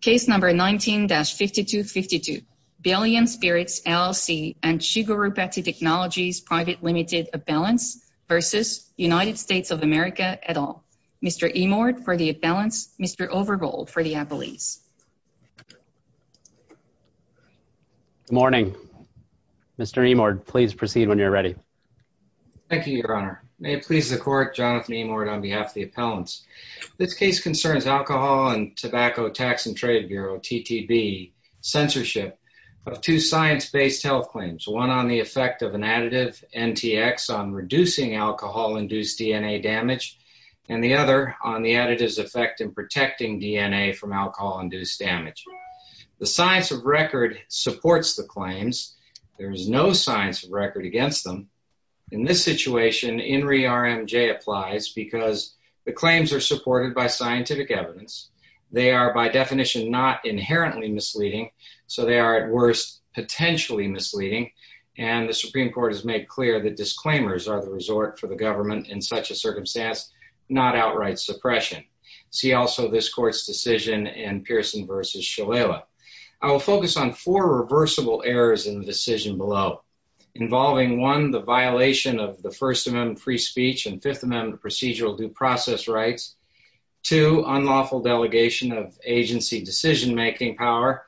case number 19-5252. Billion Spirits, LLC and Shigarupati Technologies Private Limited Appellants v. United States of America et al. Mr. Imord for the appellants, Mr. Overbold for the appellees. Good morning. Mr. Imord, please proceed when you're ready. Thank you, your honor. May it please the court, Jonathan Imord on behalf of the appellants. This case concerns alcohol and TTB censorship of two science-based health claims. One on the effect of an additive NTX on reducing alcohol-induced DNA damage and the other on the additive's effect in protecting DNA from alcohol-induced damage. The science of record supports the claims. There is no science of record against them. In this situation, INRI RMJ applies because the claims are supported by scientific evidence. They are by definition not inherently misleading, so they are at worst potentially misleading, and the Supreme Court has made clear that disclaimers are the resort for the government in such a circumstance, not outright suppression. See also this court's decision in Pearson v. Shalala. I will focus on four reversible errors in the decision below, involving one, the violation of the First Amendment free speech and Fifth Amendment procedural due process rights, two, unlawful delegation of agency decision-making power,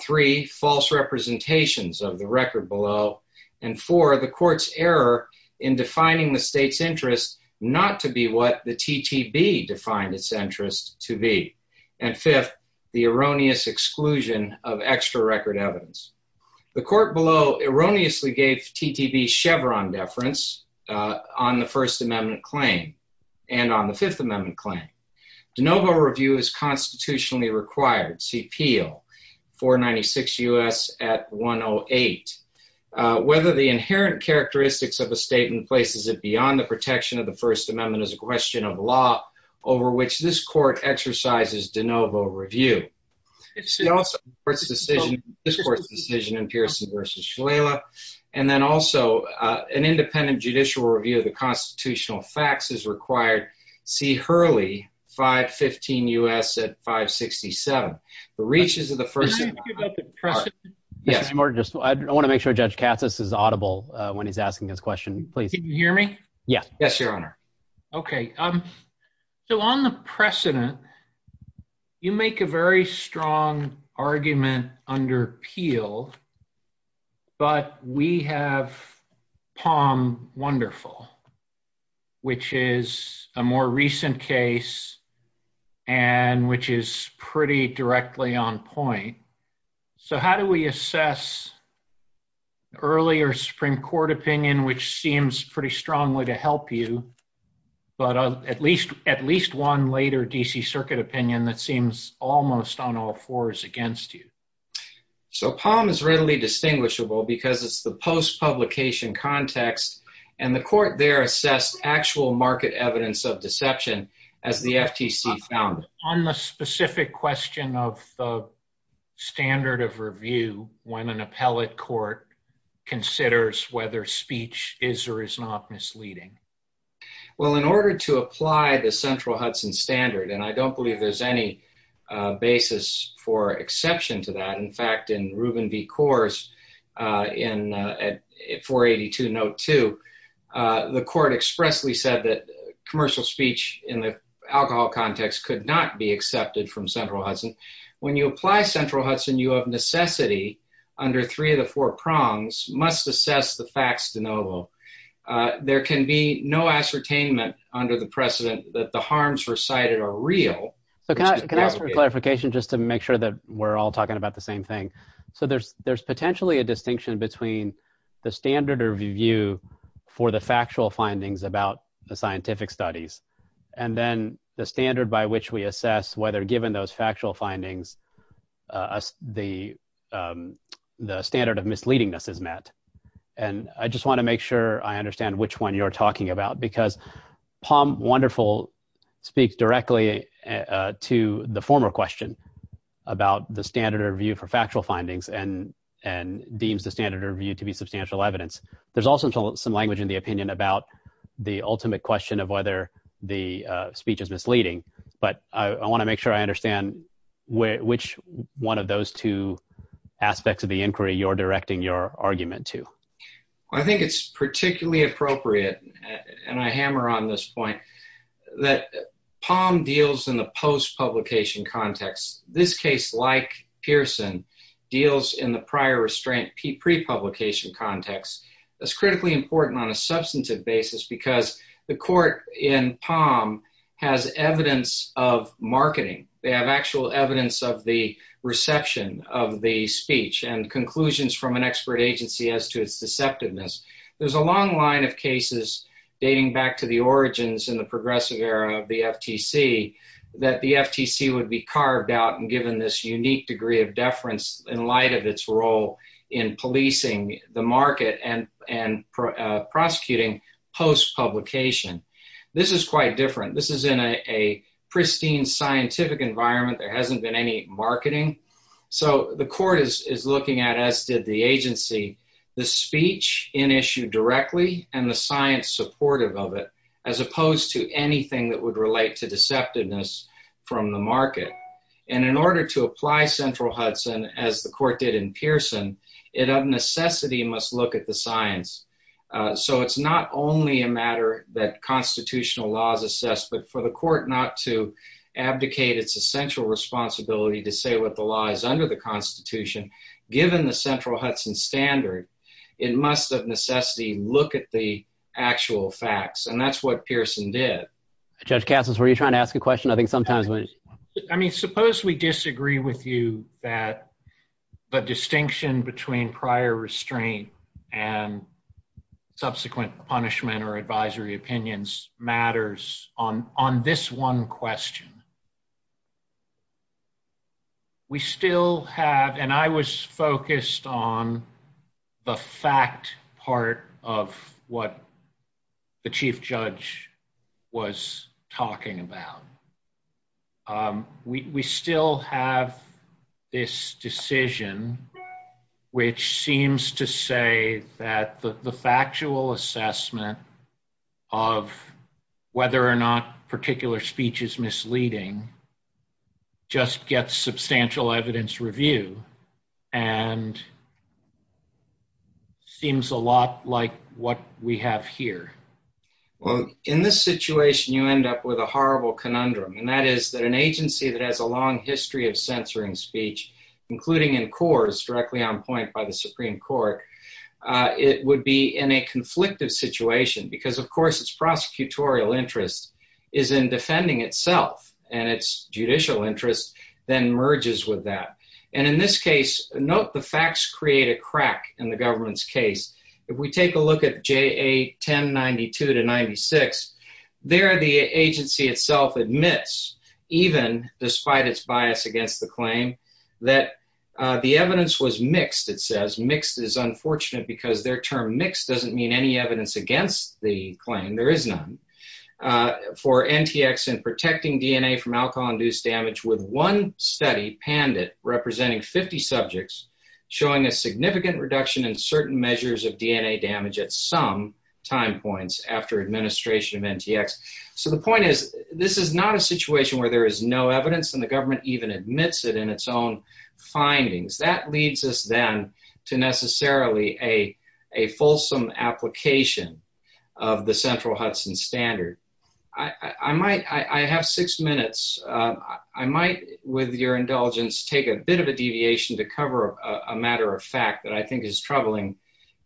three, false representations of the record below, and four, the court's error in defining the state's interest not to be what the TTB defined its interest to be, and fifth, the erroneous exclusion of extra record evidence. The court erroneously gave TTB Chevron deference on the First Amendment claim and on the Fifth Amendment claim. De novo review is constitutionally required, see Peel, 496 U.S. at 108. Whether the inherent characteristics of a statement places it beyond the protection of the First Amendment is a question of law over which this court exercises de novo review. See also this court's decision in Pearson v. Shalala, and then also an independent judicial review of the constitutional facts is required, see Hurley, 515 U.S. at 567. The reaches of the First Amendment... Can I ask you about the precedent? Yes, I want to make sure Judge Katsas is audible when he's asking his question, please. Can you hear me? Yes. Yes, Your Honor. Okay. So on the precedent, you make a very strong argument under Peel, but we have Palm wonderful, which is a more recent case and which is pretty directly on point. So how do we assess earlier Supreme Court opinion, which seems pretty strongly to help you? But at least one later D.C. Circuit opinion that seems almost on all fours against you. So Palm is readily distinguishable because it's the post-publication context, and the court there assessed actual market evidence of deception as the FTC found it. On the specific question of the standard of review when an appellate court considers whether speech is or is not misleading? Well, in order to apply the Central Hudson standard, and I don't believe there's any basis for exception to that. In fact, in Ruben v. Coors at 482 note two, the court expressly said that commercial speech in the alcohol context could not be accepted from Central Hudson. When you apply Central Hudson, you have necessity under three of the four prongs must assess the facts de novo. There can be no ascertainment under the precedent that the harms recited are real. So can I ask for clarification just to make sure that we're all talking about the same thing? So there's potentially a distinction between the standard of review for the factual findings about the scientific studies, and then the standard by which we assess whether given those factual findings, the standard of misleadingness is met. And I just want to make sure I understand which one you're talking about, because Palm Wonderful speaks directly to the former question about the standard of review for factual findings and deems the standard of review to be substantial evidence. There's also some language in the opinion about the ultimate question of whether the speech is misleading. But I want to make sure I understand which one of those two aspects of the inquiry you're directing your argument to. I think it's particularly appropriate, and I hammer on this point, that Palm deals in the post-publication context. This case, like Pearson, deals in the prior restraint pre-publication context. That's critically important on a substantive basis, because the court in Palm has evidence of marketing. They have actual evidence of the reception of the speech and conclusions from an expert agency as to its deceptiveness. There's a long line of cases dating back to the origins in the progressive era of the FTC that the FTC would be carved out and given this unique degree of deference in light of its role in policing the market and prosecuting post-publication. This is quite different. This is in a pristine scientific environment. There hasn't been any marketing. So the court is looking at, as did the agency, the speech in issue directly and the science supportive of it, as opposed to anything that would relate to deceptiveness from the market. And in order to of necessity must look at the science. So it's not only a matter that constitutional laws assess, but for the court not to abdicate its essential responsibility to say what the law is under the Constitution, given the central Hudson standard, it must of necessity look at the actual facts. And that's what Pearson did. Judge Cassis, were you trying to ask a question? I think sometimes I mean, suppose we disagree with you that the distinction between prior restraint and subsequent punishment or advisory opinions matters on this one question. We still have, and I was focused on the fact part of what the chief judge was talking about. We still have this decision, which seems to say that the factual assessment of whether or not particular speech is misleading just gets substantial evidence review and seems a lot like what we have here. Well, in this situation, you end up with a horrible conundrum, and that is that an agency that has a long history of censoring speech, including in cores directly on point by the Supreme Court, it would be in a conflicted situation because, of course, its prosecutorial interest is in defending itself and its judicial interest then merges with that. And in this case, note the facts create a crack in the government's case. If we take a look at JA 1092 to 96, there the agency itself admits, even despite its bias against the claim, that the evidence was mixed, it says. Mixed is unfortunate because their term mixed doesn't mean any evidence against the claim. There is none. For NTX in protecting DNA from alcohol-induced damage with one study, PANDIT, representing 50 subjects, showing a significant reduction in certain measures of DNA damage at some time points after administration of NTX. So the point is, this is not a situation where there is no evidence and the government even admits it in its own findings. That leads us then to necessarily a fulsome application of the central Hudson standard. I have six minutes. I might, with your indulgence, take a bit of a deviation to cover a matter of fact that I think is troubling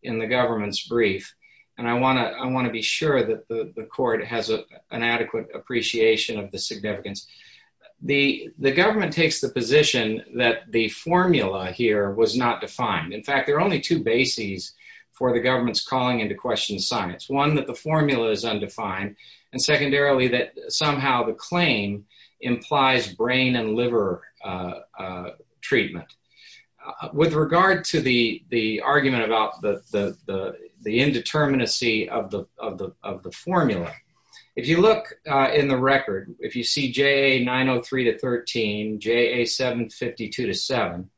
in the government's brief. And I want to be sure that the court has an adequate appreciation of the significance. The government takes the position that the formula here was not defined. In fact, there are only two bases for the government's calling into question science. One, that the treatment. With regard to the argument about the indeterminacy of the formula, if you look in the record, if you see JA903-13, JA752-7,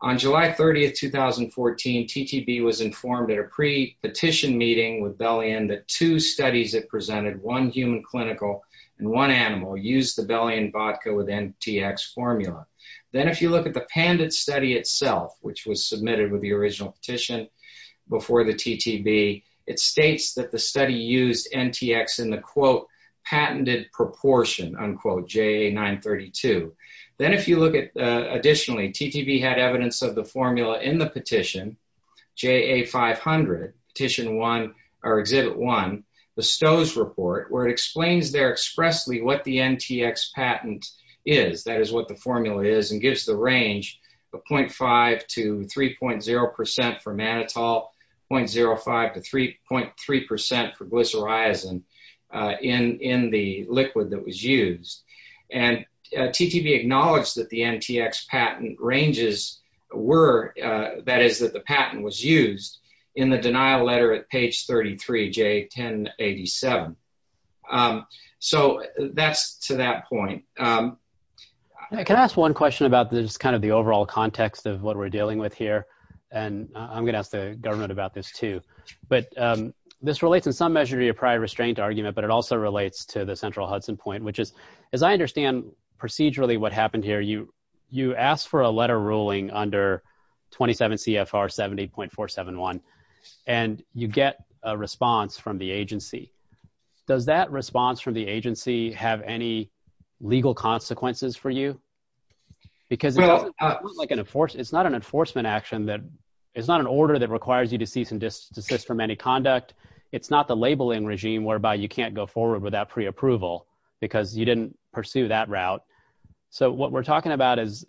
on July 30, 2014, TTB was informed at a pre-petition meeting with Belian that two studies it presented, one human clinical and one animal, used the Belian Vodka with NTX formula. Then if you look at the pandid study itself, which was submitted with the original petition before the TTB, it states that the study used NTX in the quote, patented proportion, unquote, JA932. Then if you look at additionally, TTB had evidence of the formula in the petition, JA500, Exhibit 1, the Stowe's report, where it explains there NTX patent is, that is what the formula is, and gives the range of 0.5 to 3.0% for mannitol, 0.05 to 3.3% for glycyrrhizin in the liquid that was used. TTB acknowledged that the NTX patent ranges were, that is that the patent was used, in the denial letter at page 33, J1087. That's to that point. Can I ask one question about the overall context of what we're dealing with here? I'm going to ask the government about this too. This relates in some measure to your prior restraint argument, but it also relates to the central Hudson point, which is, as I under 27 CFR 70.471, and you get a response from the agency. Does that response from the agency have any legal consequences for you? Because it's not an enforcement action that, it's not an order that requires you to cease and desist from any conduct. It's not the labeling regime whereby you can't go forward without pre-approval because you didn't pursue that route. What we're talking about is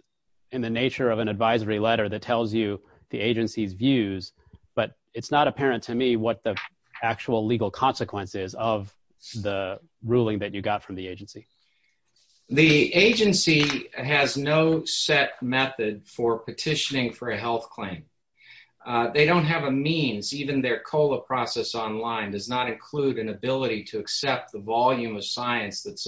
in the nature of an advisory letter that tells you the agency's views, but it's not apparent to me what the actual legal consequences of the ruling that you got from the agency. The agency has no set method for petitioning for a health claim. They don't have a means, even their COLA process online does not include an ability to accept the volume of science that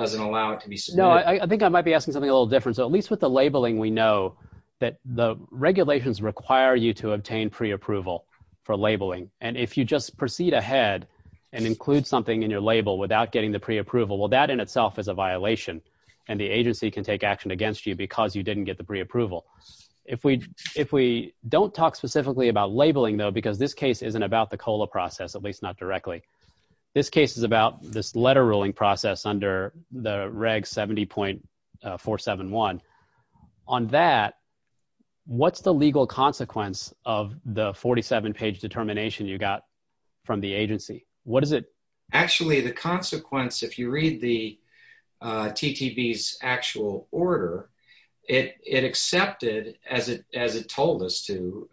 doesn't allow it to be submitted. I think I might be asking something a little different. So at least with the labeling, we know that the regulations require you to obtain pre-approval for labeling. And if you just proceed ahead and include something in your label without getting the pre-approval, well, that in itself is a violation and the agency can take action against you because you didn't get the pre-approval. If we, if we don't talk specifically about labeling though, because this case isn't about the COLA process, at least not directly. This case is about this letter ruling process under the reg 70.471. On that, what's the legal consequence of the 47 page determination you got from the agency? What is it? Actually, the consequence, if you read the TTV's actual order, it accepted as it told us to,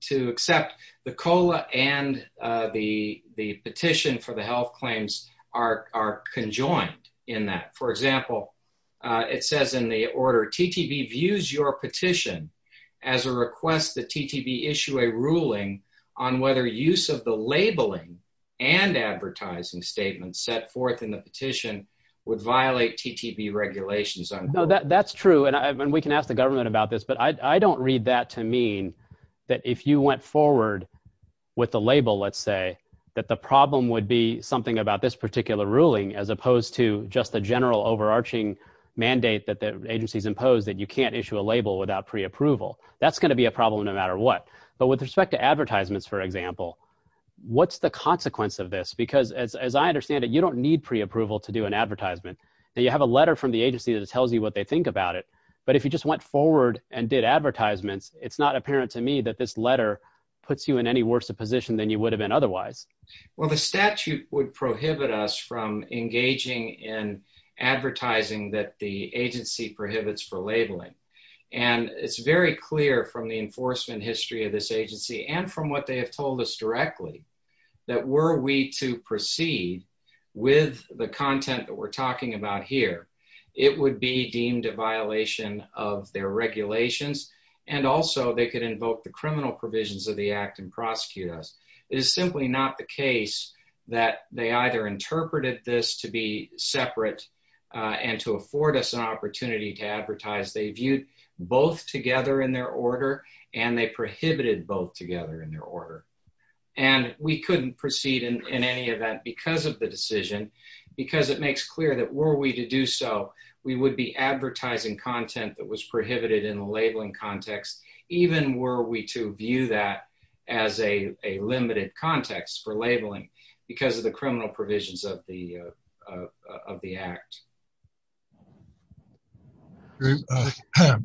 to accept the COLA and the, the petition for the health claims are, are conjoined in that. For example it says in the order, TTV views your petition as a request that TTV issue a ruling on whether use of the labeling and advertising statements set forth in the petition would violate TTV regulations. That's true. And we can ask the government about this, but I don't read that to mean that if you went forward with the label, let's say that the problem would be something about this particular ruling as opposed to just the general overarching mandate that the agency's imposed that you can't issue a label without pre-approval. That's going to be a problem no matter what. But with respect to advertisements, for example, what's the consequence of this? Because as I understand it, you don't need pre-approval to do an advertisement. Now you have a letter from the agency that tells you what they think about it. But if you just went forward and did advertisements, it's not apparent to me that this letter puts you in any worse a position than you would have been otherwise. Well, the statute would prohibit us from engaging in advertising that the agency prohibits for labeling. And it's very clear from the enforcement history of this agency and from what they have told us directly that were we to proceed with the content that we're talking about here, it would be deemed a violation of their regulations. And also they could invoke the criminal provisions of the act and prosecute us. It is simply not the case that they either interpreted this to be separate and to afford us an opportunity to advertise. They viewed both together in their order and they prohibited both together in their order. And we couldn't proceed in any event because of the decision, because it makes clear that were we to do so, we would be advertising content that was prohibited in the labeling context, even were we to view that as a limited context for labeling because of the criminal provisions of the act. Mr.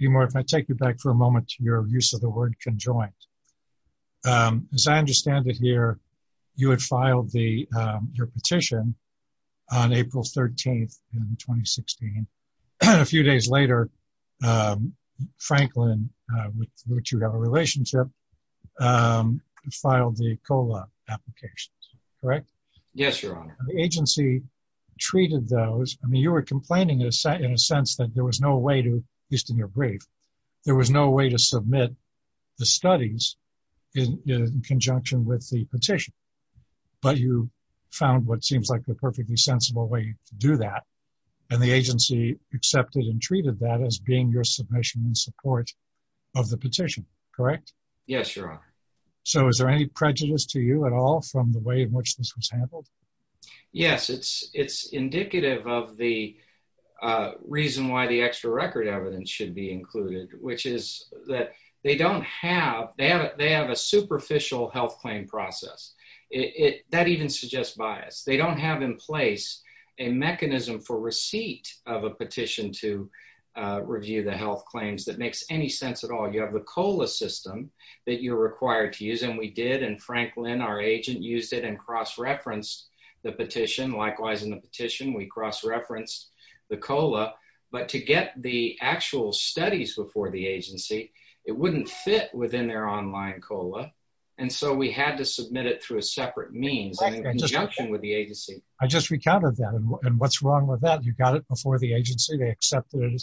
Emore, if I take you back for a moment to your use of the word conjoined. As I understand it here, you had filed your petition on April 13th in 2016. And a few days later, Franklin, with which you have a relationship, filed the COLA applications, correct? Yes, Your Honor. The agency treated those, I mean, you were complaining in a sense that there was no way to, at least in your brief, there was no way to submit the studies in conjunction with the petition. But you found what seems like a perfectly sensible way to do that. And the agency accepted and treated that as being your submission in support of the petition, correct? Yes, Your Honor. So is there any prejudice to you at all from the way in which this was handled? Yes, it's indicative of the reason why the extra record evidence should be included, which is that they don't have, they have a superficial health claim process. That even suggests bias. They don't have in place a mechanism for receipt of a petition to review the health claims that makes any sense at all. You have the COLA system that you're required to use, and we did. And Franklin, our agent, used it and cross-referenced the petition. Likewise, in the petition, we cross-referenced the COLA. But to get the actual studies before the agency, it wouldn't fit within their online COLA. And so we had to submit it through a separate means in conjunction with the agency. I just recounted that. And what's wrong with that? You got it before the agency, they accepted it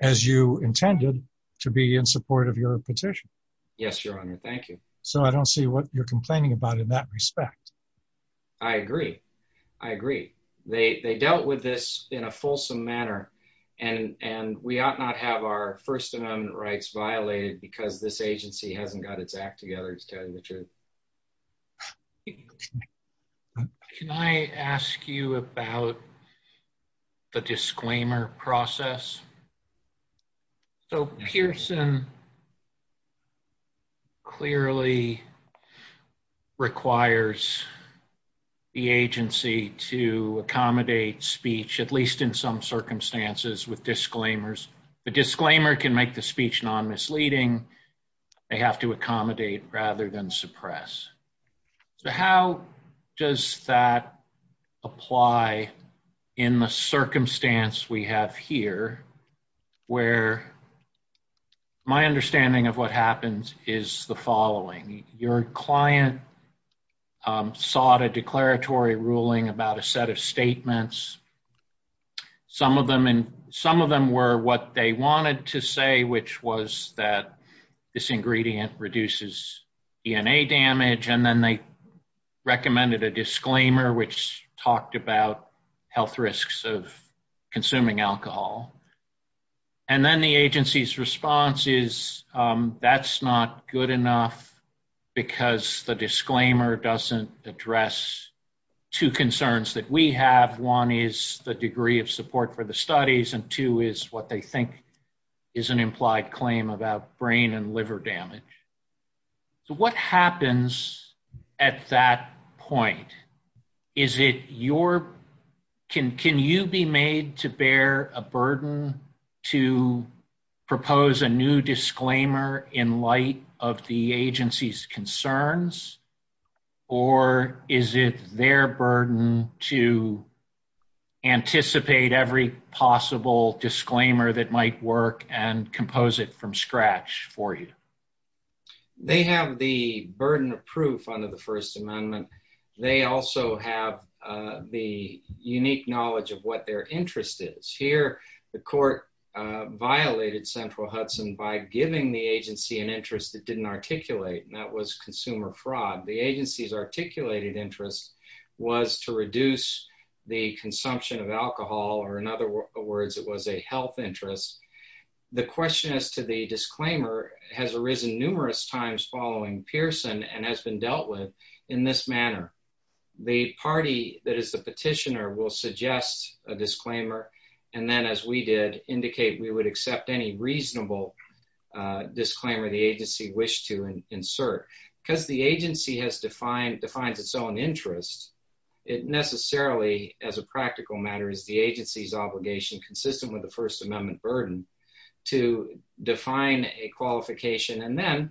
as you intended to be in support of your petition. Yes, Your Honor. Thank you. So I don't see what you're complaining about in that respect. I agree. I agree. They dealt with this in a fulsome manner. And we ought not have our First Amendment rights violated because this agency hasn't got its act together. He's telling the truth. Can I ask you about the disclaimer process? So Pearson clearly requires the agency to accommodate speech, at least in some circumstances, with disclaimers. The disclaimer can make the speech non-misleading. They have to accommodate rather than suppress. So how does that apply in the circumstance we have here, where my understanding of what happens is the following. Your client sought a declaratory ruling about a set of statements. Some of them were what they wanted to say, which was that this ingredient reduces DNA damage. And then they recommended a disclaimer, which talked about health risks of consuming alcohol. And then the agency's response is that's not good enough because the disclaimer doesn't address two concerns that we have. One is the degree of support for the studies. And two is what they think is an implied claim about brain and liver damage. So what happens at that point? Can you be made to bear a burden to propose a new disclaimer in light of the agency's concerns? Or is it their burden to anticipate every possible disclaimer that might work and compose it from scratch for you? They have the burden of proof under the First Amendment. They also have the unique knowledge of what their interest is. Here, the court violated Central Hudson by giving the agency an interest that didn't articulate, and that was consumer fraud. The agency's articulated interest was to reduce the consumption of alcohol, or in other words, it was a health interest. The question as to the disclaimer has arisen numerous times following Pearson and has been dealt with in this manner. The party that is the petitioner will suggest a disclaimer, and then as we did, indicate we would accept any reasonable disclaimer the agency wished to insert. Because the agency has defined, defines its own interest, it necessarily, as a practical matter, is the agency's obligation, consistent with the First Amendment burden, to define a qualification and then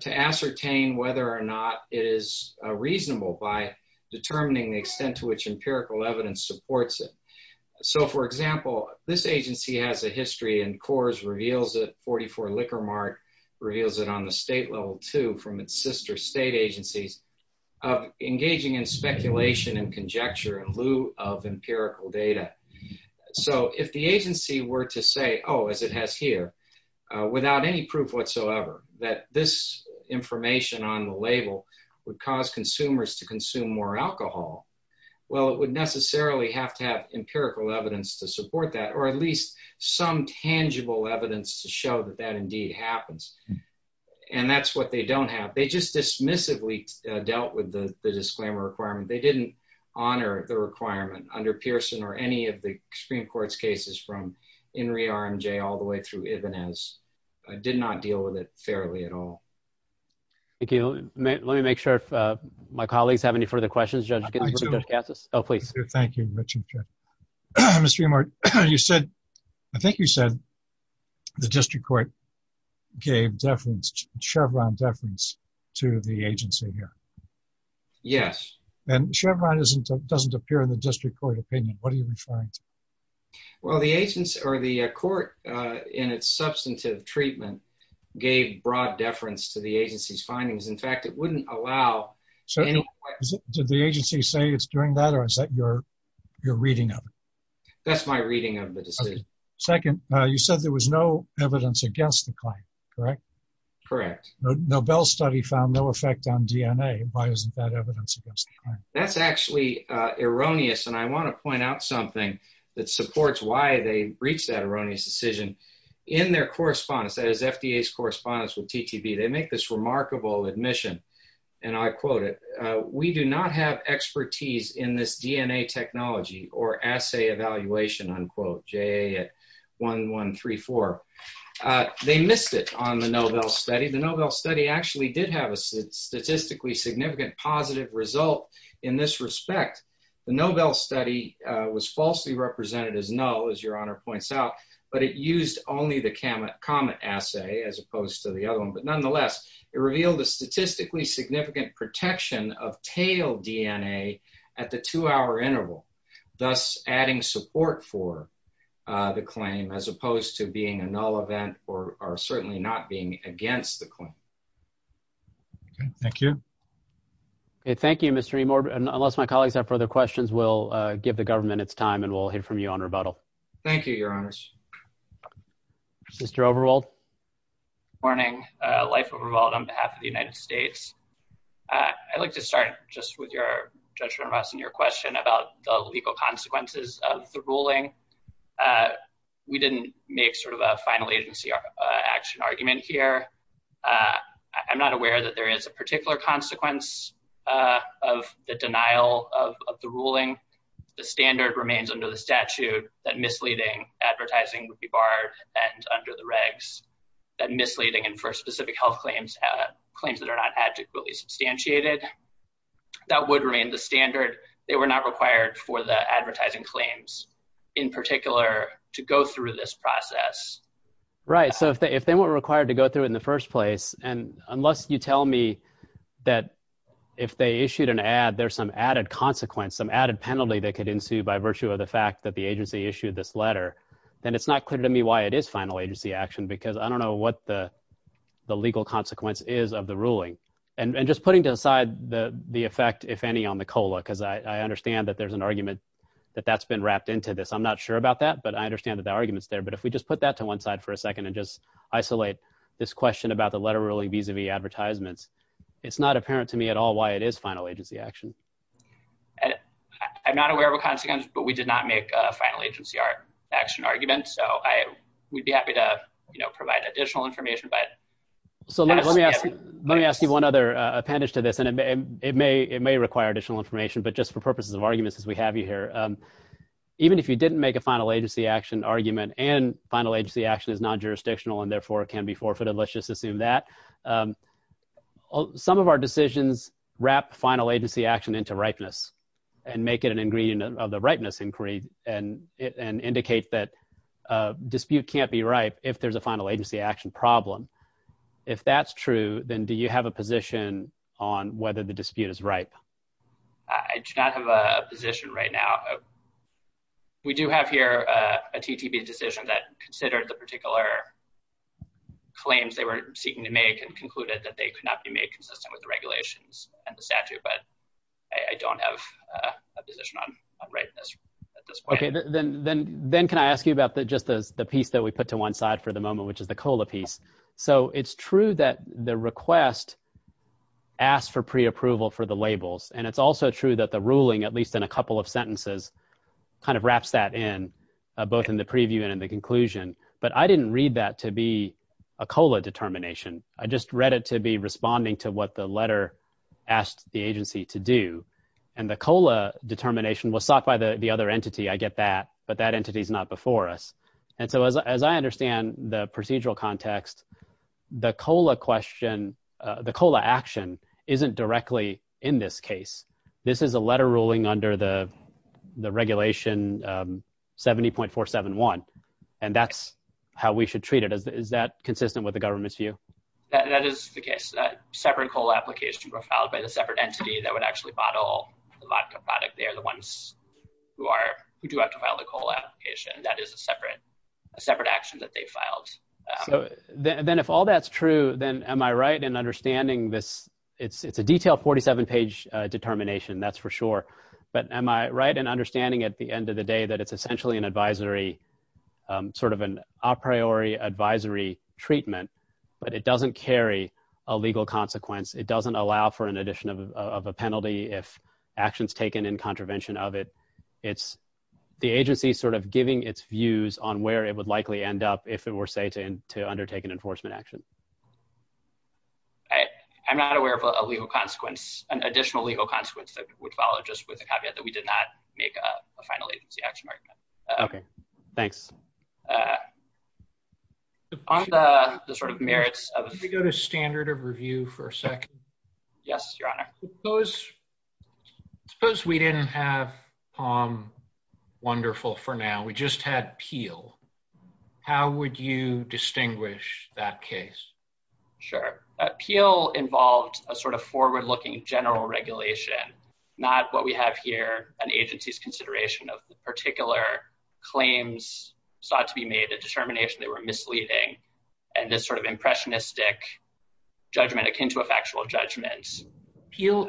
to ascertain whether or not it is reasonable by determining the extent to which empirical evidence supports it. So for example, this agency has a history, and Coors reveals it, 44 Liquor Mart reveals it on the state level too from its sister state agencies, of engaging in speculation and conjecture in lieu of empirical data. So if the agency were to say, oh, as it has here, without any proof whatsoever that this information on the label would cause consumers to consume more alcohol, well, it would necessarily have to have empirical evidence to support that, or at least some tangible evidence to show that that indeed happens. And that's what they don't have. They just dismissively dealt with the disclaimer requirement. They didn't honor the requirement under Pearson or any of the Supreme Court's cases from INRI RMJ all the way through Ibanez, did not deal with it fairly at all. Thank you. Let me make sure if my colleagues have any further questions. I do. Oh, please. Thank you, Richard. Mr. Emart, you said, I think you said the district court gave deference, Chevron deference to the agency here. Yes. And Chevron doesn't appear in the district court opinion. What do you find? Well, the agency or the court in its substantive treatment gave broad deference to the agency's findings. In fact, it wouldn't allow So did the agency say it's during that or is that your reading of it? That's my reading of the decision. Second, you said there was no evidence against the claim, correct? Correct. Nobel study found no effect on DNA. Why isn't that evidence against the claim? That's actually erroneous. And I want to point out something that supports why they reached that erroneous decision in their correspondence. That is FDA's correspondence with TTV. They make this remarkable admission. And I quote it. We do not have expertise in this DNA technology or assay evaluation, unquote, J at 1134. They missed it on the Nobel study. The Nobel study actually did have a statistically significant positive result in this respect. The Nobel study was falsely represented as no, as your honor points out, but it used only the comet assay as opposed to the other one. But nonetheless, it revealed a statistically significant protection of tail DNA at the two hour interval, thus adding support for the claim as opposed to being a null event or certainly not being against the claim. Thank you. Thank you, Mr. Rehmor. Unless my colleagues have further questions, we'll give the government its time and we'll hear from you on rebuttal. Thank you, your honors. Mr. Overwalt. Morning, Life Overwalt on behalf of the United States. I'd like to start just with your judgment of us and your question about the legal consequences of the ruling. We didn't make sort of a final agency action argument here. I'm not aware that there is a particular consequence of the denial of the ruling. The standard remains under the statute that misleading advertising would be barred and under the regs, that misleading and for specific health claims, claims that are not adequately substantiated, that would remain the standard. They were not required for the advertising claims in particular to go through this process. Right. So if they weren't required to go through it in the first place, and unless you tell me that if they issued an ad, there's some added consequence, some added penalty that ensued by virtue of the fact that the agency issued this letter, then it's not clear to me why it is final agency action, because I don't know what the legal consequence is of the ruling. And just putting aside the effect, if any, on the COLA, because I understand that there's an argument that that's been wrapped into this. I'm not sure about that, but I understand that the argument is there. But if we just put that to one side for a second and just isolate this question about the letter ruling vis-a-vis advertisements, it's not apparent to me at all why it is final agency action. I'm not aware of a consequence, but we did not make a final agency action argument. So we'd be happy to provide additional information. So let me ask you one other appendage to this, and it may require additional information, but just for purposes of arguments as we have you here, even if you didn't make a final agency action argument and final agency action is non-jurisdictional and therefore it can be wrapped final agency action into ripeness and make it an ingredient of the ripeness inquiry and indicate that a dispute can't be ripe if there's a final agency action problem. If that's true, then do you have a position on whether the dispute is ripe? I do not have a position right now. We do have here a TTP decision that considered the particular claims they were seeking to make and concluded that they could not be made consistent with the statute, but I don't have a position on ripeness at this point. Okay. Then can I ask you about just the piece that we put to one side for the moment, which is the COLA piece? So it's true that the request asked for pre-approval for the labels, and it's also true that the ruling, at least in a couple of sentences, kind of wraps that in both in the preview and in the conclusion, but I didn't read that to be a COLA determination. I just read it to be responding to what the letter asked the agency to do. And the COLA determination was sought by the other entity. I get that, but that entity's not before us. And so as I understand the procedural context, the COLA action isn't directly in this case. This is a letter ruling under the regulation 70.471, and that's how we should treat it. Is that consistent with the government's view? That is the case. That separate COLA application was filed by the separate entity that would actually bottle the vodka product. They are the ones who do have to file the COLA application. That is a separate action that they filed. So then if all that's true, then am I right in understanding this? It's a detailed 47-page determination, that's for sure. But am I right in understanding at the end of the day that it's essentially an advisory, sort of an a priori advisory treatment, but it doesn't carry a legal consequence. It doesn't allow for an addition of a penalty if action's taken in contravention of it. It's the agency sort of giving its views on where it would likely end up if it were say to undertake an enforcement action. I'm not aware of a legal consequence, an additional legal consequence that would follow just with the caveat that we did not make a final agency action argument. Okay, thanks. On the sort of merits of- Can we go to standard of review for a second? Yes, your honor. Suppose we didn't have POM Wonderful for now. We just had Peel. How would you distinguish that case? Sure. Peel involved a sort of forward-looking general regulation, not what we have here, an agency's consideration of the particular claims sought to be made, a determination they were misleading, and this sort of impressionistic judgment akin to a factual judgment. Peel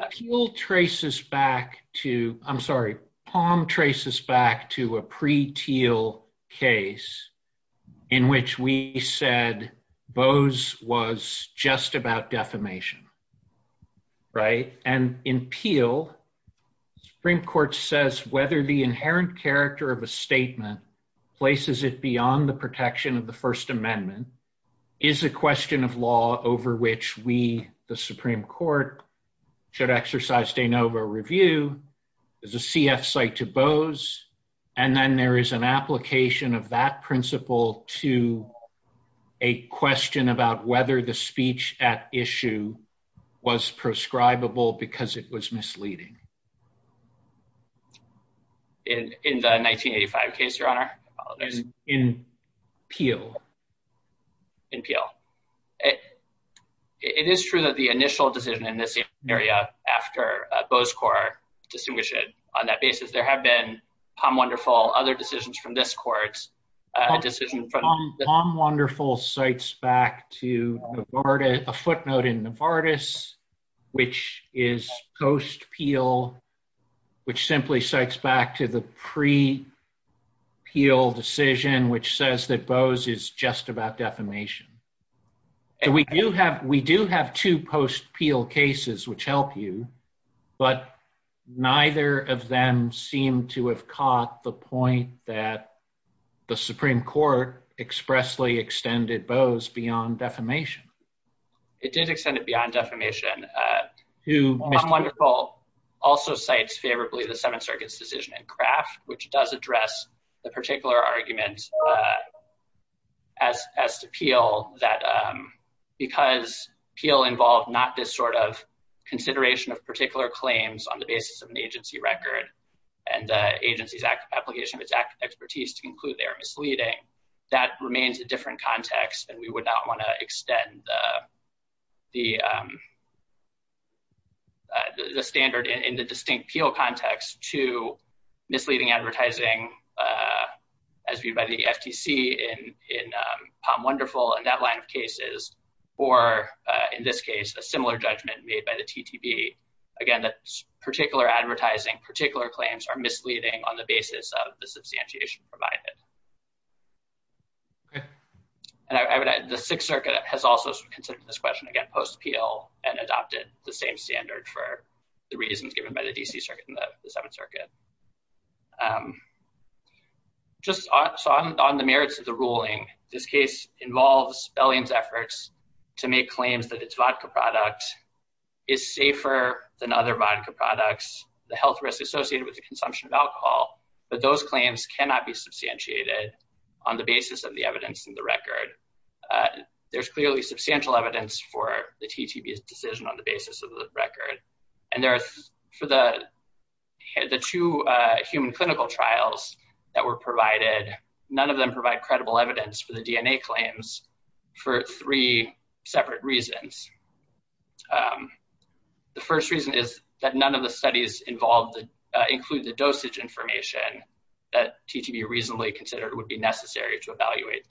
traces back to, I'm sorry, POM traces back to a pre-Teal case in which we said Boaz was just about defamation. In Peel, the Supreme Court says whether the inherent character of a statement places it beyond the protection of the First Amendment is a question of law over which we, the Supreme Court, should exercise de novo review as a CF site to Boaz, and then there is an application of that principle to a question about whether the speech at issue was prescribable because it was misleading. In the 1985 case, your honor? In Peel. In Peel. It is true that the initial decision in this area after Boaz Corr distinguished it on that basis. There have been POM Wonderful, other decisions from this court, decisions from POM Wonderful cites back to a footnote in Novartis which is post-Peel, which simply cites back to the just about defamation. We do have two post-Peel cases which help you, but neither of them seem to have caught the point that the Supreme Court expressly extended Boaz beyond defamation. It did extend it beyond defamation. POM Wonderful also cites favorably the Seventh Circuit's decision in Kraft which does address the particular argument as to Peel that because Peel involved not this sort of consideration of particular claims on the basis of an agency record and the agency's application of its expertise to conclude they are misleading, that remains a different context and we would not want to extend the standard in the distinct Peel context to misleading advertising as viewed by the FTC in POM Wonderful and that line of cases or in this case a similar judgment made by the TTP. Again, that particular advertising, particular claims are misleading on the basis of the substantiation provided. The Sixth Circuit has also considered this question again post-Peel and adopted the same in the Seventh Circuit. Just on the merits of the ruling, this case involves Bellion's efforts to make claims that its vodka product is safer than other vodka products, the health risk associated with the consumption of alcohol, but those claims cannot be substantiated on the basis of the evidence in the record. There's clearly substantial evidence for the TTP's decision on basis of the record and there are for the two human clinical trials that were provided, none of them provide credible evidence for the DNA claims for three separate reasons. The first reason is that none of the studies involved include the dosage information that TTP reasonably considered would be necessary to evaluate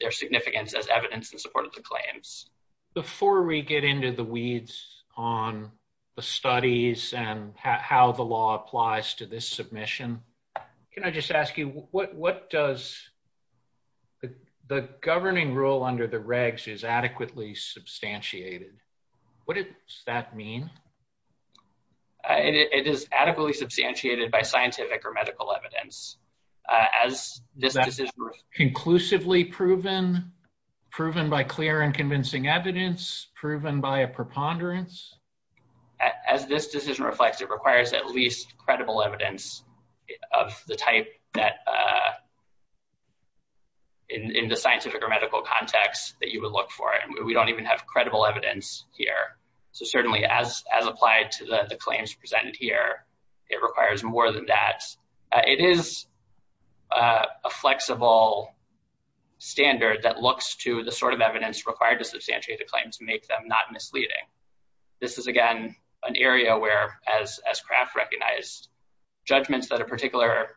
their significance as evidence in support of the claims. Before we get into the weeds on the studies and how the law applies to this submission, can I just ask you what does the governing rule under the regs is adequately substantiated? What does that mean? It is adequately substantiated by scientific or medical evidence. Is that conclusively proven? Proven by clear and convincing evidence? Proven by a preponderance? As this decision reflects, it requires at least credible evidence of the type that in the scientific or medical context that you would look for it. We don't even have credible evidence here, so certainly as applied to the claims presented here, it requires more than that. It is a flexible standard that looks to the sort of evidence required to substantiate a claim to make them not misleading. This is again an area where as Kraft recognized judgments that a particular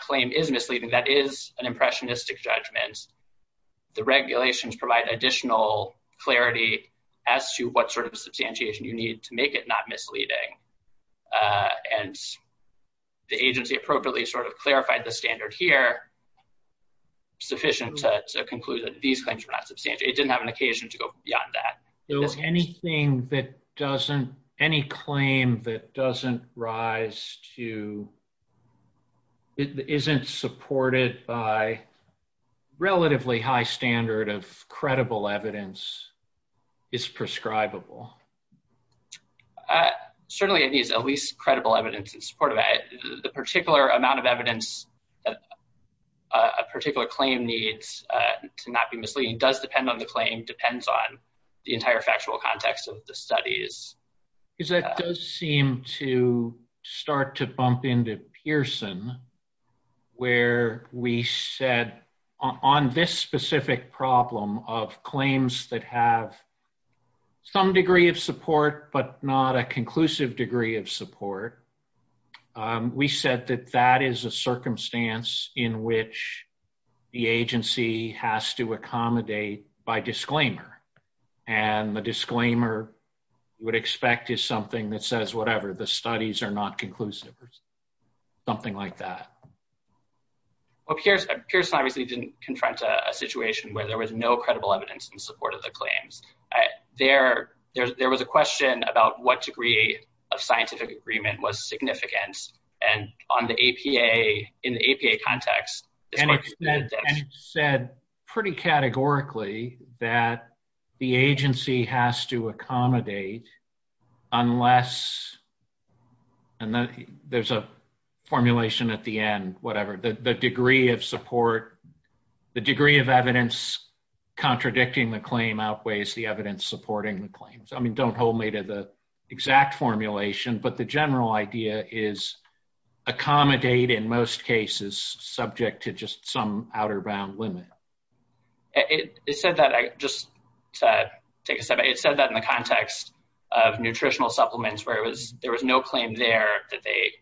claim is misleading, that is an impressionistic judgment. The regulations provide additional clarity as to what sort of a substantiation you need to make it not misleading. The agency appropriately sort of clarified the standard here, sufficient to conclude that these claims are not substantiated. It didn't have an occasion to go beyond that. Anything that doesn't, any claim that doesn't rise to, isn't supported by relatively high standard of credible evidence is prescribable. Certainly it needs at least credible evidence in support of that. The particular amount of evidence that a particular claim needs to not be misleading does depend on the claim, depends on the entire factual context of the studies. That does seem to start to bump into Pearson, where we said on this specific problem of claims that have some degree of support, but not a conclusive degree of support, we said that that is a circumstance in which the agency has to accommodate by disclaimer. The disclaimer would expect is something that Pearson obviously didn't confront a situation where there was no credible evidence in support of the claims. There was a question about what degree of scientific agreement was significant, and on the APA, in the APA context, and it said pretty categorically that the agency has to whatever, the degree of support, the degree of evidence contradicting the claim outweighs the evidence supporting the claims. Don't hold me to the exact formulation, but the general idea is accommodate in most cases subject to just some outer bound limit. It said that, just to take a step back, it said that in the context of nutritional supplements there was no claim there that they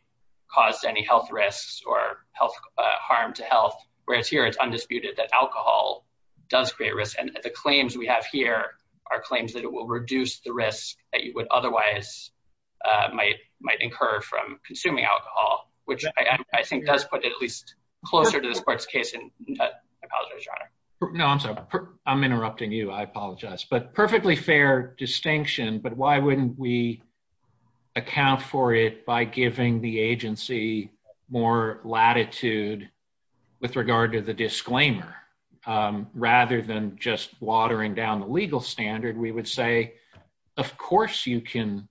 caused any health risks or harm to health, whereas here, it's undisputed that alcohol does create risk. The claims we have here are claims that it will reduce the risk that you would otherwise might incur from consuming alcohol, which I think does put it at least closer to the sports case. I apologize, Your Honor. No, I'm sorry. I'm account for it by giving the agency more latitude with regard to the disclaimer. Rather than just watering down the legal standard, we would say, of course you can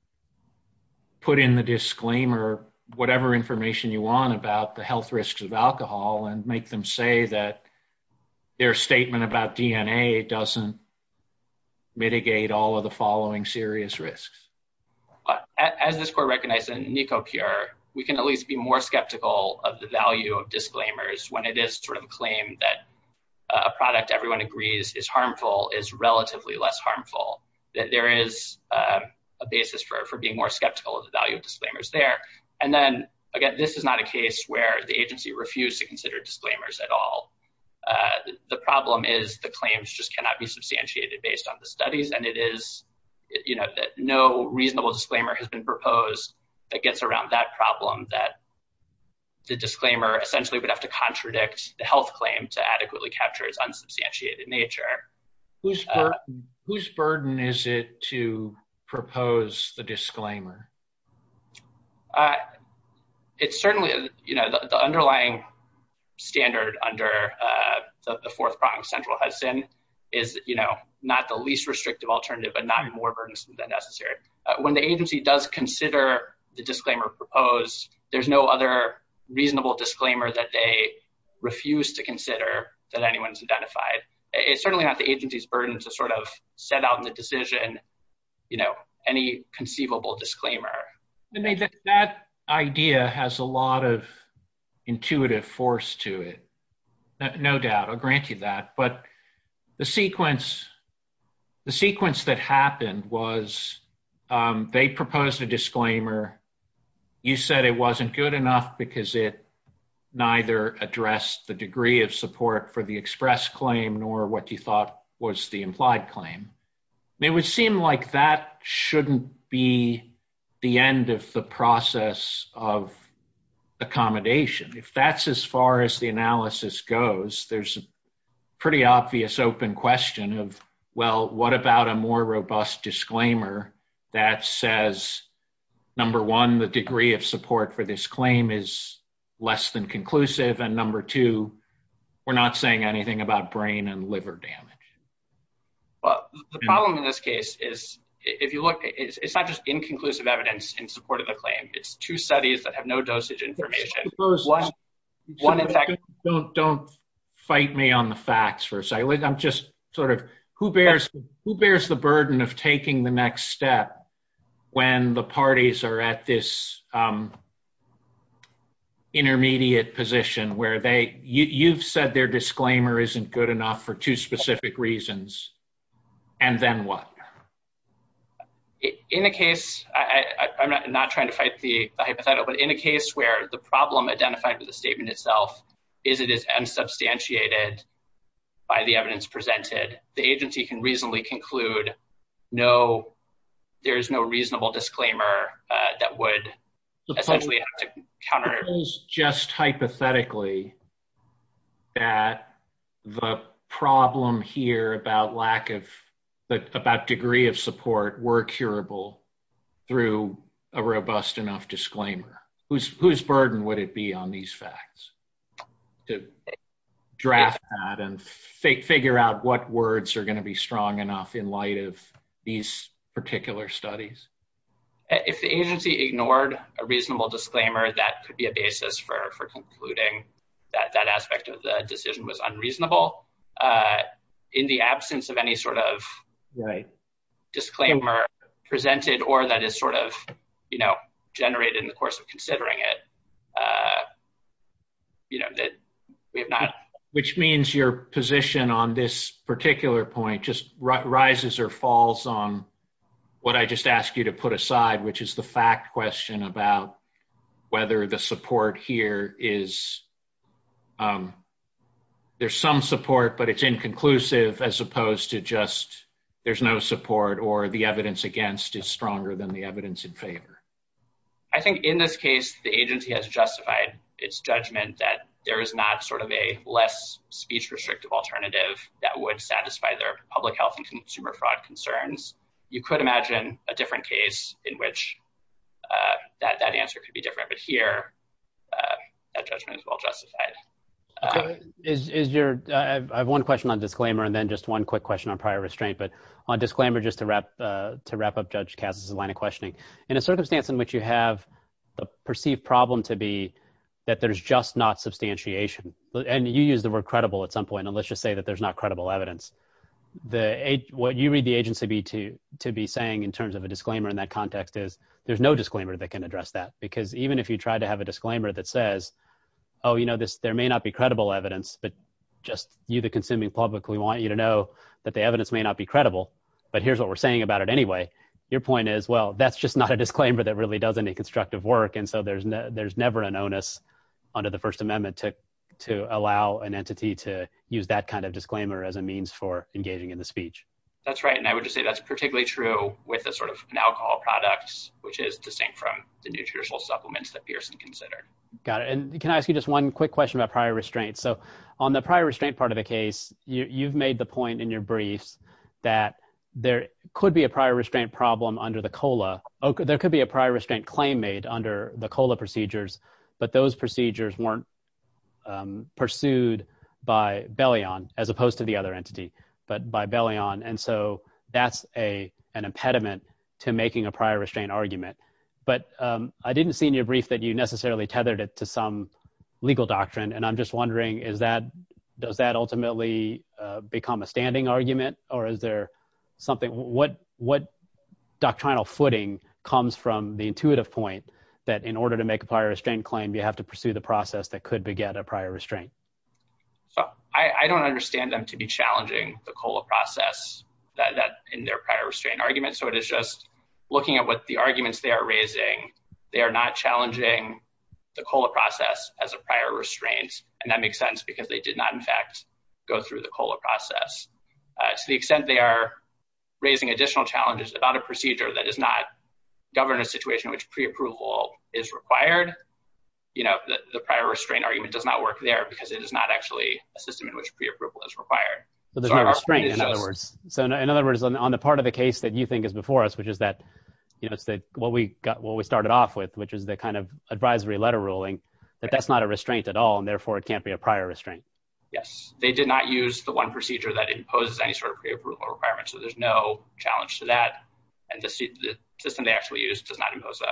put in the disclaimer whatever information you want about the health risks of alcohol and make them say that their statement about DNA doesn't mitigate all of the following serious risks. As this court recognized in NECOPURE, we can at least be more skeptical of the value of disclaimers when it is sort of a claim that a product everyone agrees is harmful is relatively less harmful, that there is a basis for being more skeptical of the value of disclaimers there. And then, again, this is not a case where the agency refused to consider disclaimers at all. The problem is the claims just cannot be substantiated based on the studies, and it is no reasonable disclaimer has been proposed that gets around that problem, that the disclaimer essentially would have to contradict the health claim to adequately capture its unsubstantiated nature. Whose burden is it to propose the disclaimer? It's certainly the underlying standard under the Fourth Prong Central Hudson is not the least restrictive alternative, but not more burdensome than necessary. When the agency does consider the disclaimer proposed, there's no other reasonable disclaimer that they refuse to consider that anyone's identified. It's certainly not the agency's burden to sort of set out in the decision, you know, any conceivable disclaimer. I mean, that idea has a lot of intuitive force to it. No doubt. I'll grant you that. But the sequence that happened was they proposed a disclaimer. You said it wasn't good enough because it neither addressed the degree of support for the express claim nor what you thought was the implied claim. It would seem like that shouldn't be the end of the process of accommodation. If that's as far as the analysis goes, there's a pretty obvious open question of, well, what about a more robust disclaimer that says, number one, the degree of support for this claim is less than conclusive, and number two, we're not saying anything about brain and liver damage. Well, the problem in this case is, if you look, it's not just inconclusive evidence in support of the claim. It's two studies that have no dosage information. Don't fight me on the facts for a second. I'm just sort of, who bears the burden of taking the next step when the parties are at this intermediate position where you've said their disclaimer isn't good enough for two specific reasons, and then what? In the case, I'm not trying to fight the hypothetical, but in a case where the problem identified with the statement itself is it is unsubstantiated by the evidence presented, the agency can reasonably conclude there is no reasonable disclaimer that would essentially counter it. Just hypothetically, that the problem here about lack of, about degree of support were curable through a robust enough disclaimer. Whose burden would it be on these facts to draft that and figure out what words are going to be strong enough in light of these particular studies? If the agency ignored a reasonable disclaimer, that could be a basis for concluding that that aspect of the decision was unreasonable. In the absence of any sort of disclaimer presented or that is sort of generated in the course of considering it, we have not... Which means your position on this particular point just rises or falls on what I just asked you to put aside, which is the fact question about whether the support here is... There's some support, but it's inconclusive as opposed to just there's no support or the evidence against is stronger than the evidence in favor. I think in this case, the agency has justified its judgment that there is not sort of a less restrictive alternative that would satisfy their public health and consumer fraud concerns. You could imagine a different case in which that answer could be different, but here, that judgment is well justified. I have one question on disclaimer, and then just one quick question on prior restraint, but on disclaimer, just to wrap up Judge Cass's line of questioning. In a circumstance in which you have the perceived problem to be that there's just not substantiation, and you use the word credible at some point, and let's just say that there's not credible evidence. What you read the agency to be saying in terms of a disclaimer in that context is there's no disclaimer that can address that, because even if you tried to have a disclaimer that says, oh, there may not be credible evidence, but just you, the consuming public, we want you to know that the evidence may not be credible, but here's what we're saying about it anyway. Your point is, well, that's just not a disclaimer that really does any constructive work, and so there's never an onus under the First Amendment to allow an entity to use that kind of disclaimer as a means for engaging in the speech. That's right, and I would just say that's particularly true with an alcohol product, which is distinct from the nutritional supplements that Pearson considered. Got it. Can I ask you just one quick question about prior restraint? On the prior restraint part of the case, you've made the point in your briefs that there could be a prior restraint problem under the COLA. There could be a prior restraint claim made under the COLA procedures, but those procedures weren't pursued by Bellion, as opposed to the other entity, but by Bellion, and so that's an impediment to making a prior restraint argument, but I didn't see in your brief that you necessarily tethered it to some legal doctrine, and I'm just wondering, does that ultimately become a standing argument, or is there something, what doctrinal footing comes from the intuitive point that in order to make a prior restraint claim, you have to pursue the process that could beget a prior restraint? So, I don't understand them to be challenging the COLA process in their prior restraint argument, so it is just looking at what the arguments they are raising. They are not challenging the COLA process as a prior restraint, and that makes sense because they did not, in fact, go through the COLA process. To the extent they are raising additional challenges about a procedure that does not govern a situation in which pre-approval is required, the prior restraint argument does not work there because it is not actually a system in which pre-approval is required. So, there's no restraint, in other words. So, in other words, on the part of the case that you think is before us, which is what we started off with, which is the kind of advisory letter ruling, that that's not a restraint at all, and therefore it can't be a prior restraint. Yes. They did not use the one procedure that imposes any sort of pre-approval requirement, so there's no challenge to that, and the system they actually used does not impose a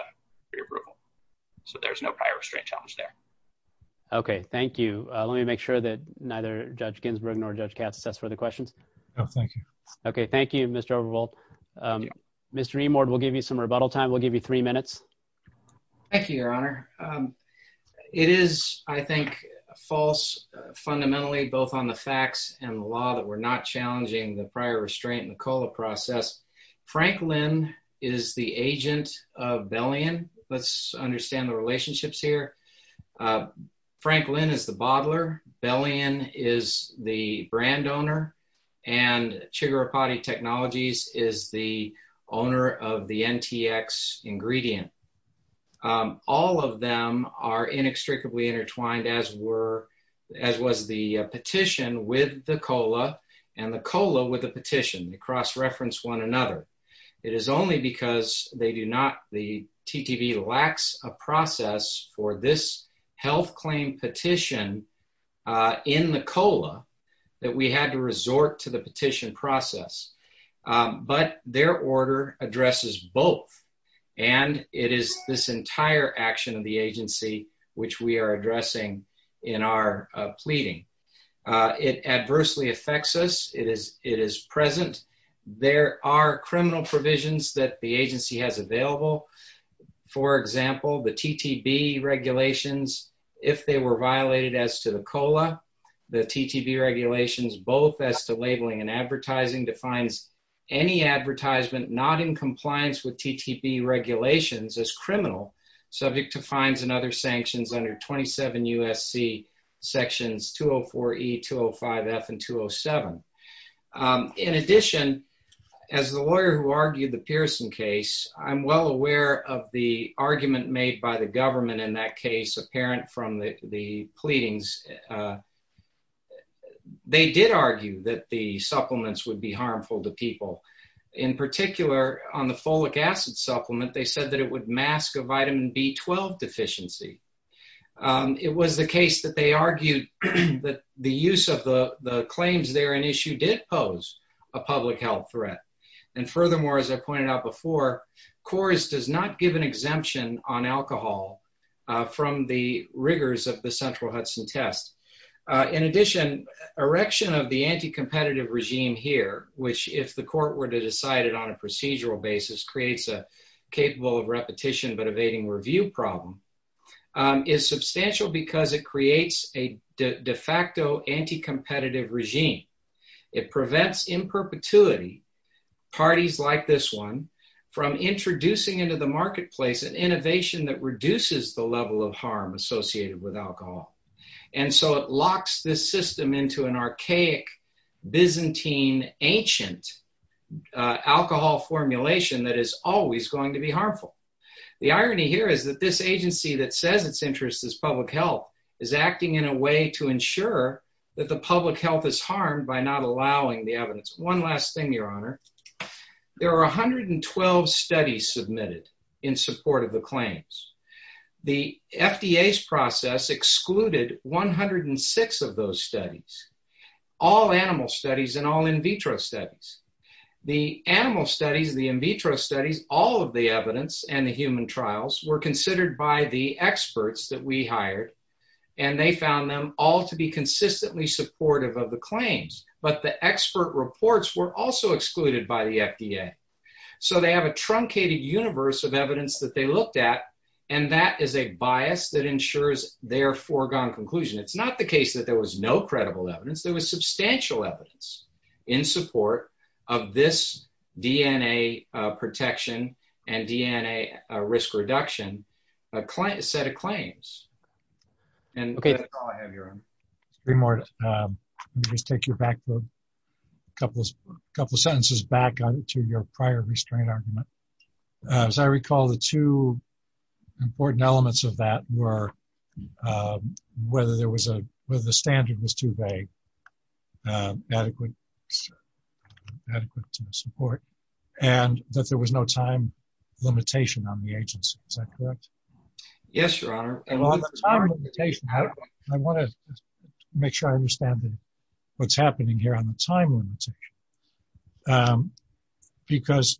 pre-approval. So, there's no prior restraint challenge there. Okay. Thank you. Let me make sure that neither Judge Ginsburg nor Judge Katz assess further questions. No, thank you. Okay. Thank you, Mr. Overvalt. Mr. Emord, we'll give you some rebuttal time. We'll give you three minutes. Thank you, Your Honor. It is, I think, false fundamentally, both on the facts and the law, that we're not challenging the prior restraint in the COLA process. Franklin is the agent of Bellion. Let's understand the relationships here. Franklin is the bottler. Bellion is the brand ingredient. All of them are inextricably intertwined, as was the petition with the COLA and the COLA with the petition. They cross-reference one another. It is only because they do not, the TTV lacks a process for this health claim petition in the COLA that we had to resort to the petition process. But their order addresses both. And it is this entire action of the agency which we are addressing in our pleading. It adversely affects us. It is present. There are criminal provisions that the agency has available. For example, the TTV regulations, if they were violated as to the COLA, the TTV regulations both as to labeling and advertising, defines any advertisement not in compliance with TTV regulations as criminal, subject to fines and other sanctions under 27 U.S.C. Sections 204E, 205F, and 207. In addition, as the lawyer who argued the Pearson case, I'm well aware of the argument made by the parent from the pleadings, they did argue that the supplements would be harmful to people. In particular, on the folic acid supplement, they said that it would mask a vitamin B12 deficiency. It was the case that they argued that the use of the claims there in issue did pose a public health threat. And furthermore, as I pointed out before, CORS does not give an exemption on alcohol from the rigors of the central Hudson test. In addition, erection of the anti-competitive regime here, which if the court were to decide it on a procedural basis, creates a capable of repetition but evading review problem, is substantial because it creates a de facto anti-competitive regime. It prevents in perpetuity parties like this one from introducing into the level of harm associated with alcohol. And so it locks this system into an archaic Byzantine ancient alcohol formulation that is always going to be harmful. The irony here is that this agency that says its interest is public health is acting in a way to ensure that the public health is harmed by not allowing the evidence. One last thing, Your Honor. There are 112 studies submitted in support of the claims. The FDA's process excluded 106 of those studies, all animal studies and all in vitro studies. The animal studies, the in vitro studies, all of the evidence and the human trials were considered by the experts that we hired, and they found them all to be consistently supportive of the claims. But the expert of evidence that they looked at, and that is a bias that ensures their foregone conclusion. It's not the case that there was no credible evidence. There was substantial evidence in support of this DNA protection and DNA risk reduction set of claims. And that's all I have, Your Honor. Three more. Let me just take you back a couple of sentences to your prior restraint argument. As I recall, the two important elements of that were whether the standard was too vague, adequate to support, and that there was no time limitation on the agency. Is that correct? Yes, Your Honor. I want to make sure I understand what's happening here on the time limitation. Because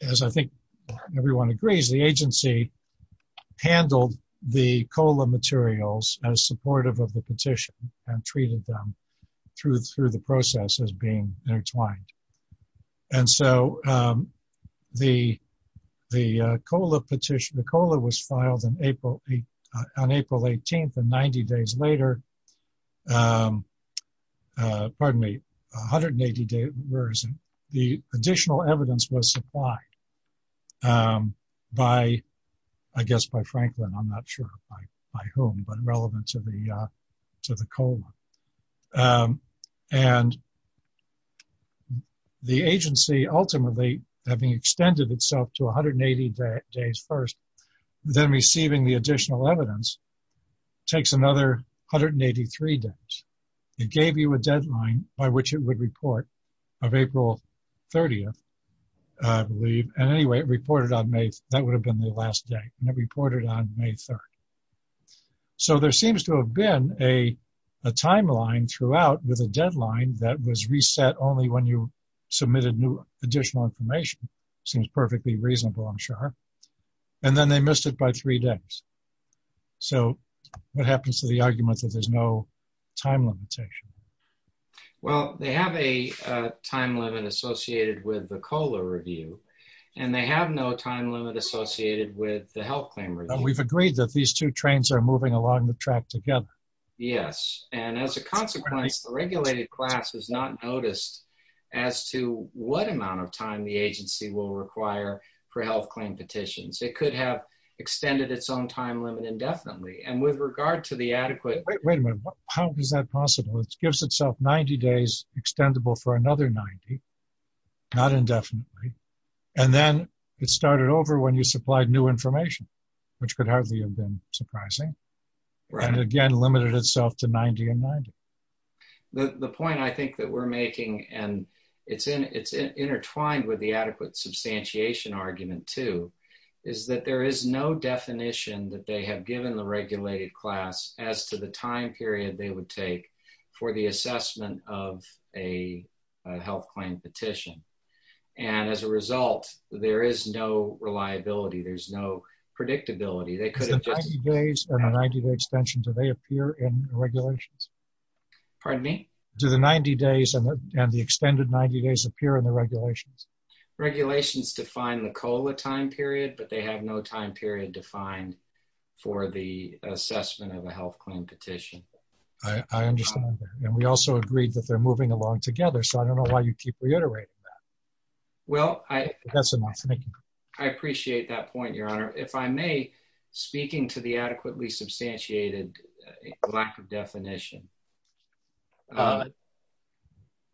as I think everyone agrees, the agency handled the COLA materials as supportive of the petition and treated them through the process as being intertwined. And so the COLA petition, the COLA was filed on April 18th. And 90 days later, pardon me, 180 days later, the additional evidence was supplied by, I guess, by Franklin, I'm not sure by whom, but relevant to the COLA. And the agency ultimately having extended itself to 180 days first, then receiving the additional evidence takes another 183 days. It gave you a deadline by which it would report of April 30th, I believe. And anyway, that would have been the last day. And it reported on May 3rd. So there seems to have been a timeline throughout with a deadline that was reset only when you perfectly reasonable, I'm sure. And then they missed it by three days. So what happens to the argument that there's no time limitation? Well, they have a time limit associated with the COLA review, and they have no time limit associated with the health claim. We've agreed that these two trains are moving along the track together. Yes. And as a consequence, the regulated class has not noticed as to what amount of time the agency will require for health claim petitions. It could have extended its own time limit indefinitely. And with regard to the adequate- Wait a minute. How is that possible? It gives itself 90 days extendable for another 90, not indefinitely. And then it started over when you supplied new information, which could hardly have been surprising. And again, limited itself to 90 and 90. The point I think that we're making, and it's intertwined with the adequate substantiation argument too, is that there is no definition that they have given the regulated class as to the time period they would take for the assessment of a health claim petition. And as a result, there is no reliability. There's no predictability. They could have just- And the 90-day extension, do they appear in the regulations? Pardon me? Do the 90 days and the extended 90 days appear in the regulations? Regulations define the COLA time period, but they have no time period defined for the assessment of a health claim petition. I understand that. And we also agreed that they're moving along together, so I don't know why you keep reiterating that. Well, I- That's enough. Thank you. I appreciate that point, Your Honor. If I may, speaking to the adequately substantiated lack of definition. I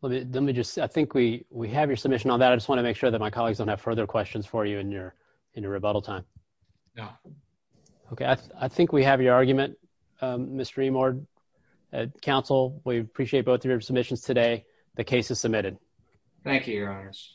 think we have your submission on that. I just want to make sure that my colleagues don't have further questions for you in your rebuttal time. No. Okay. I think we have your argument, Mr. Reimord. Counsel, we appreciate both of your submissions today. The case is submitted. Thank you, Your Honors.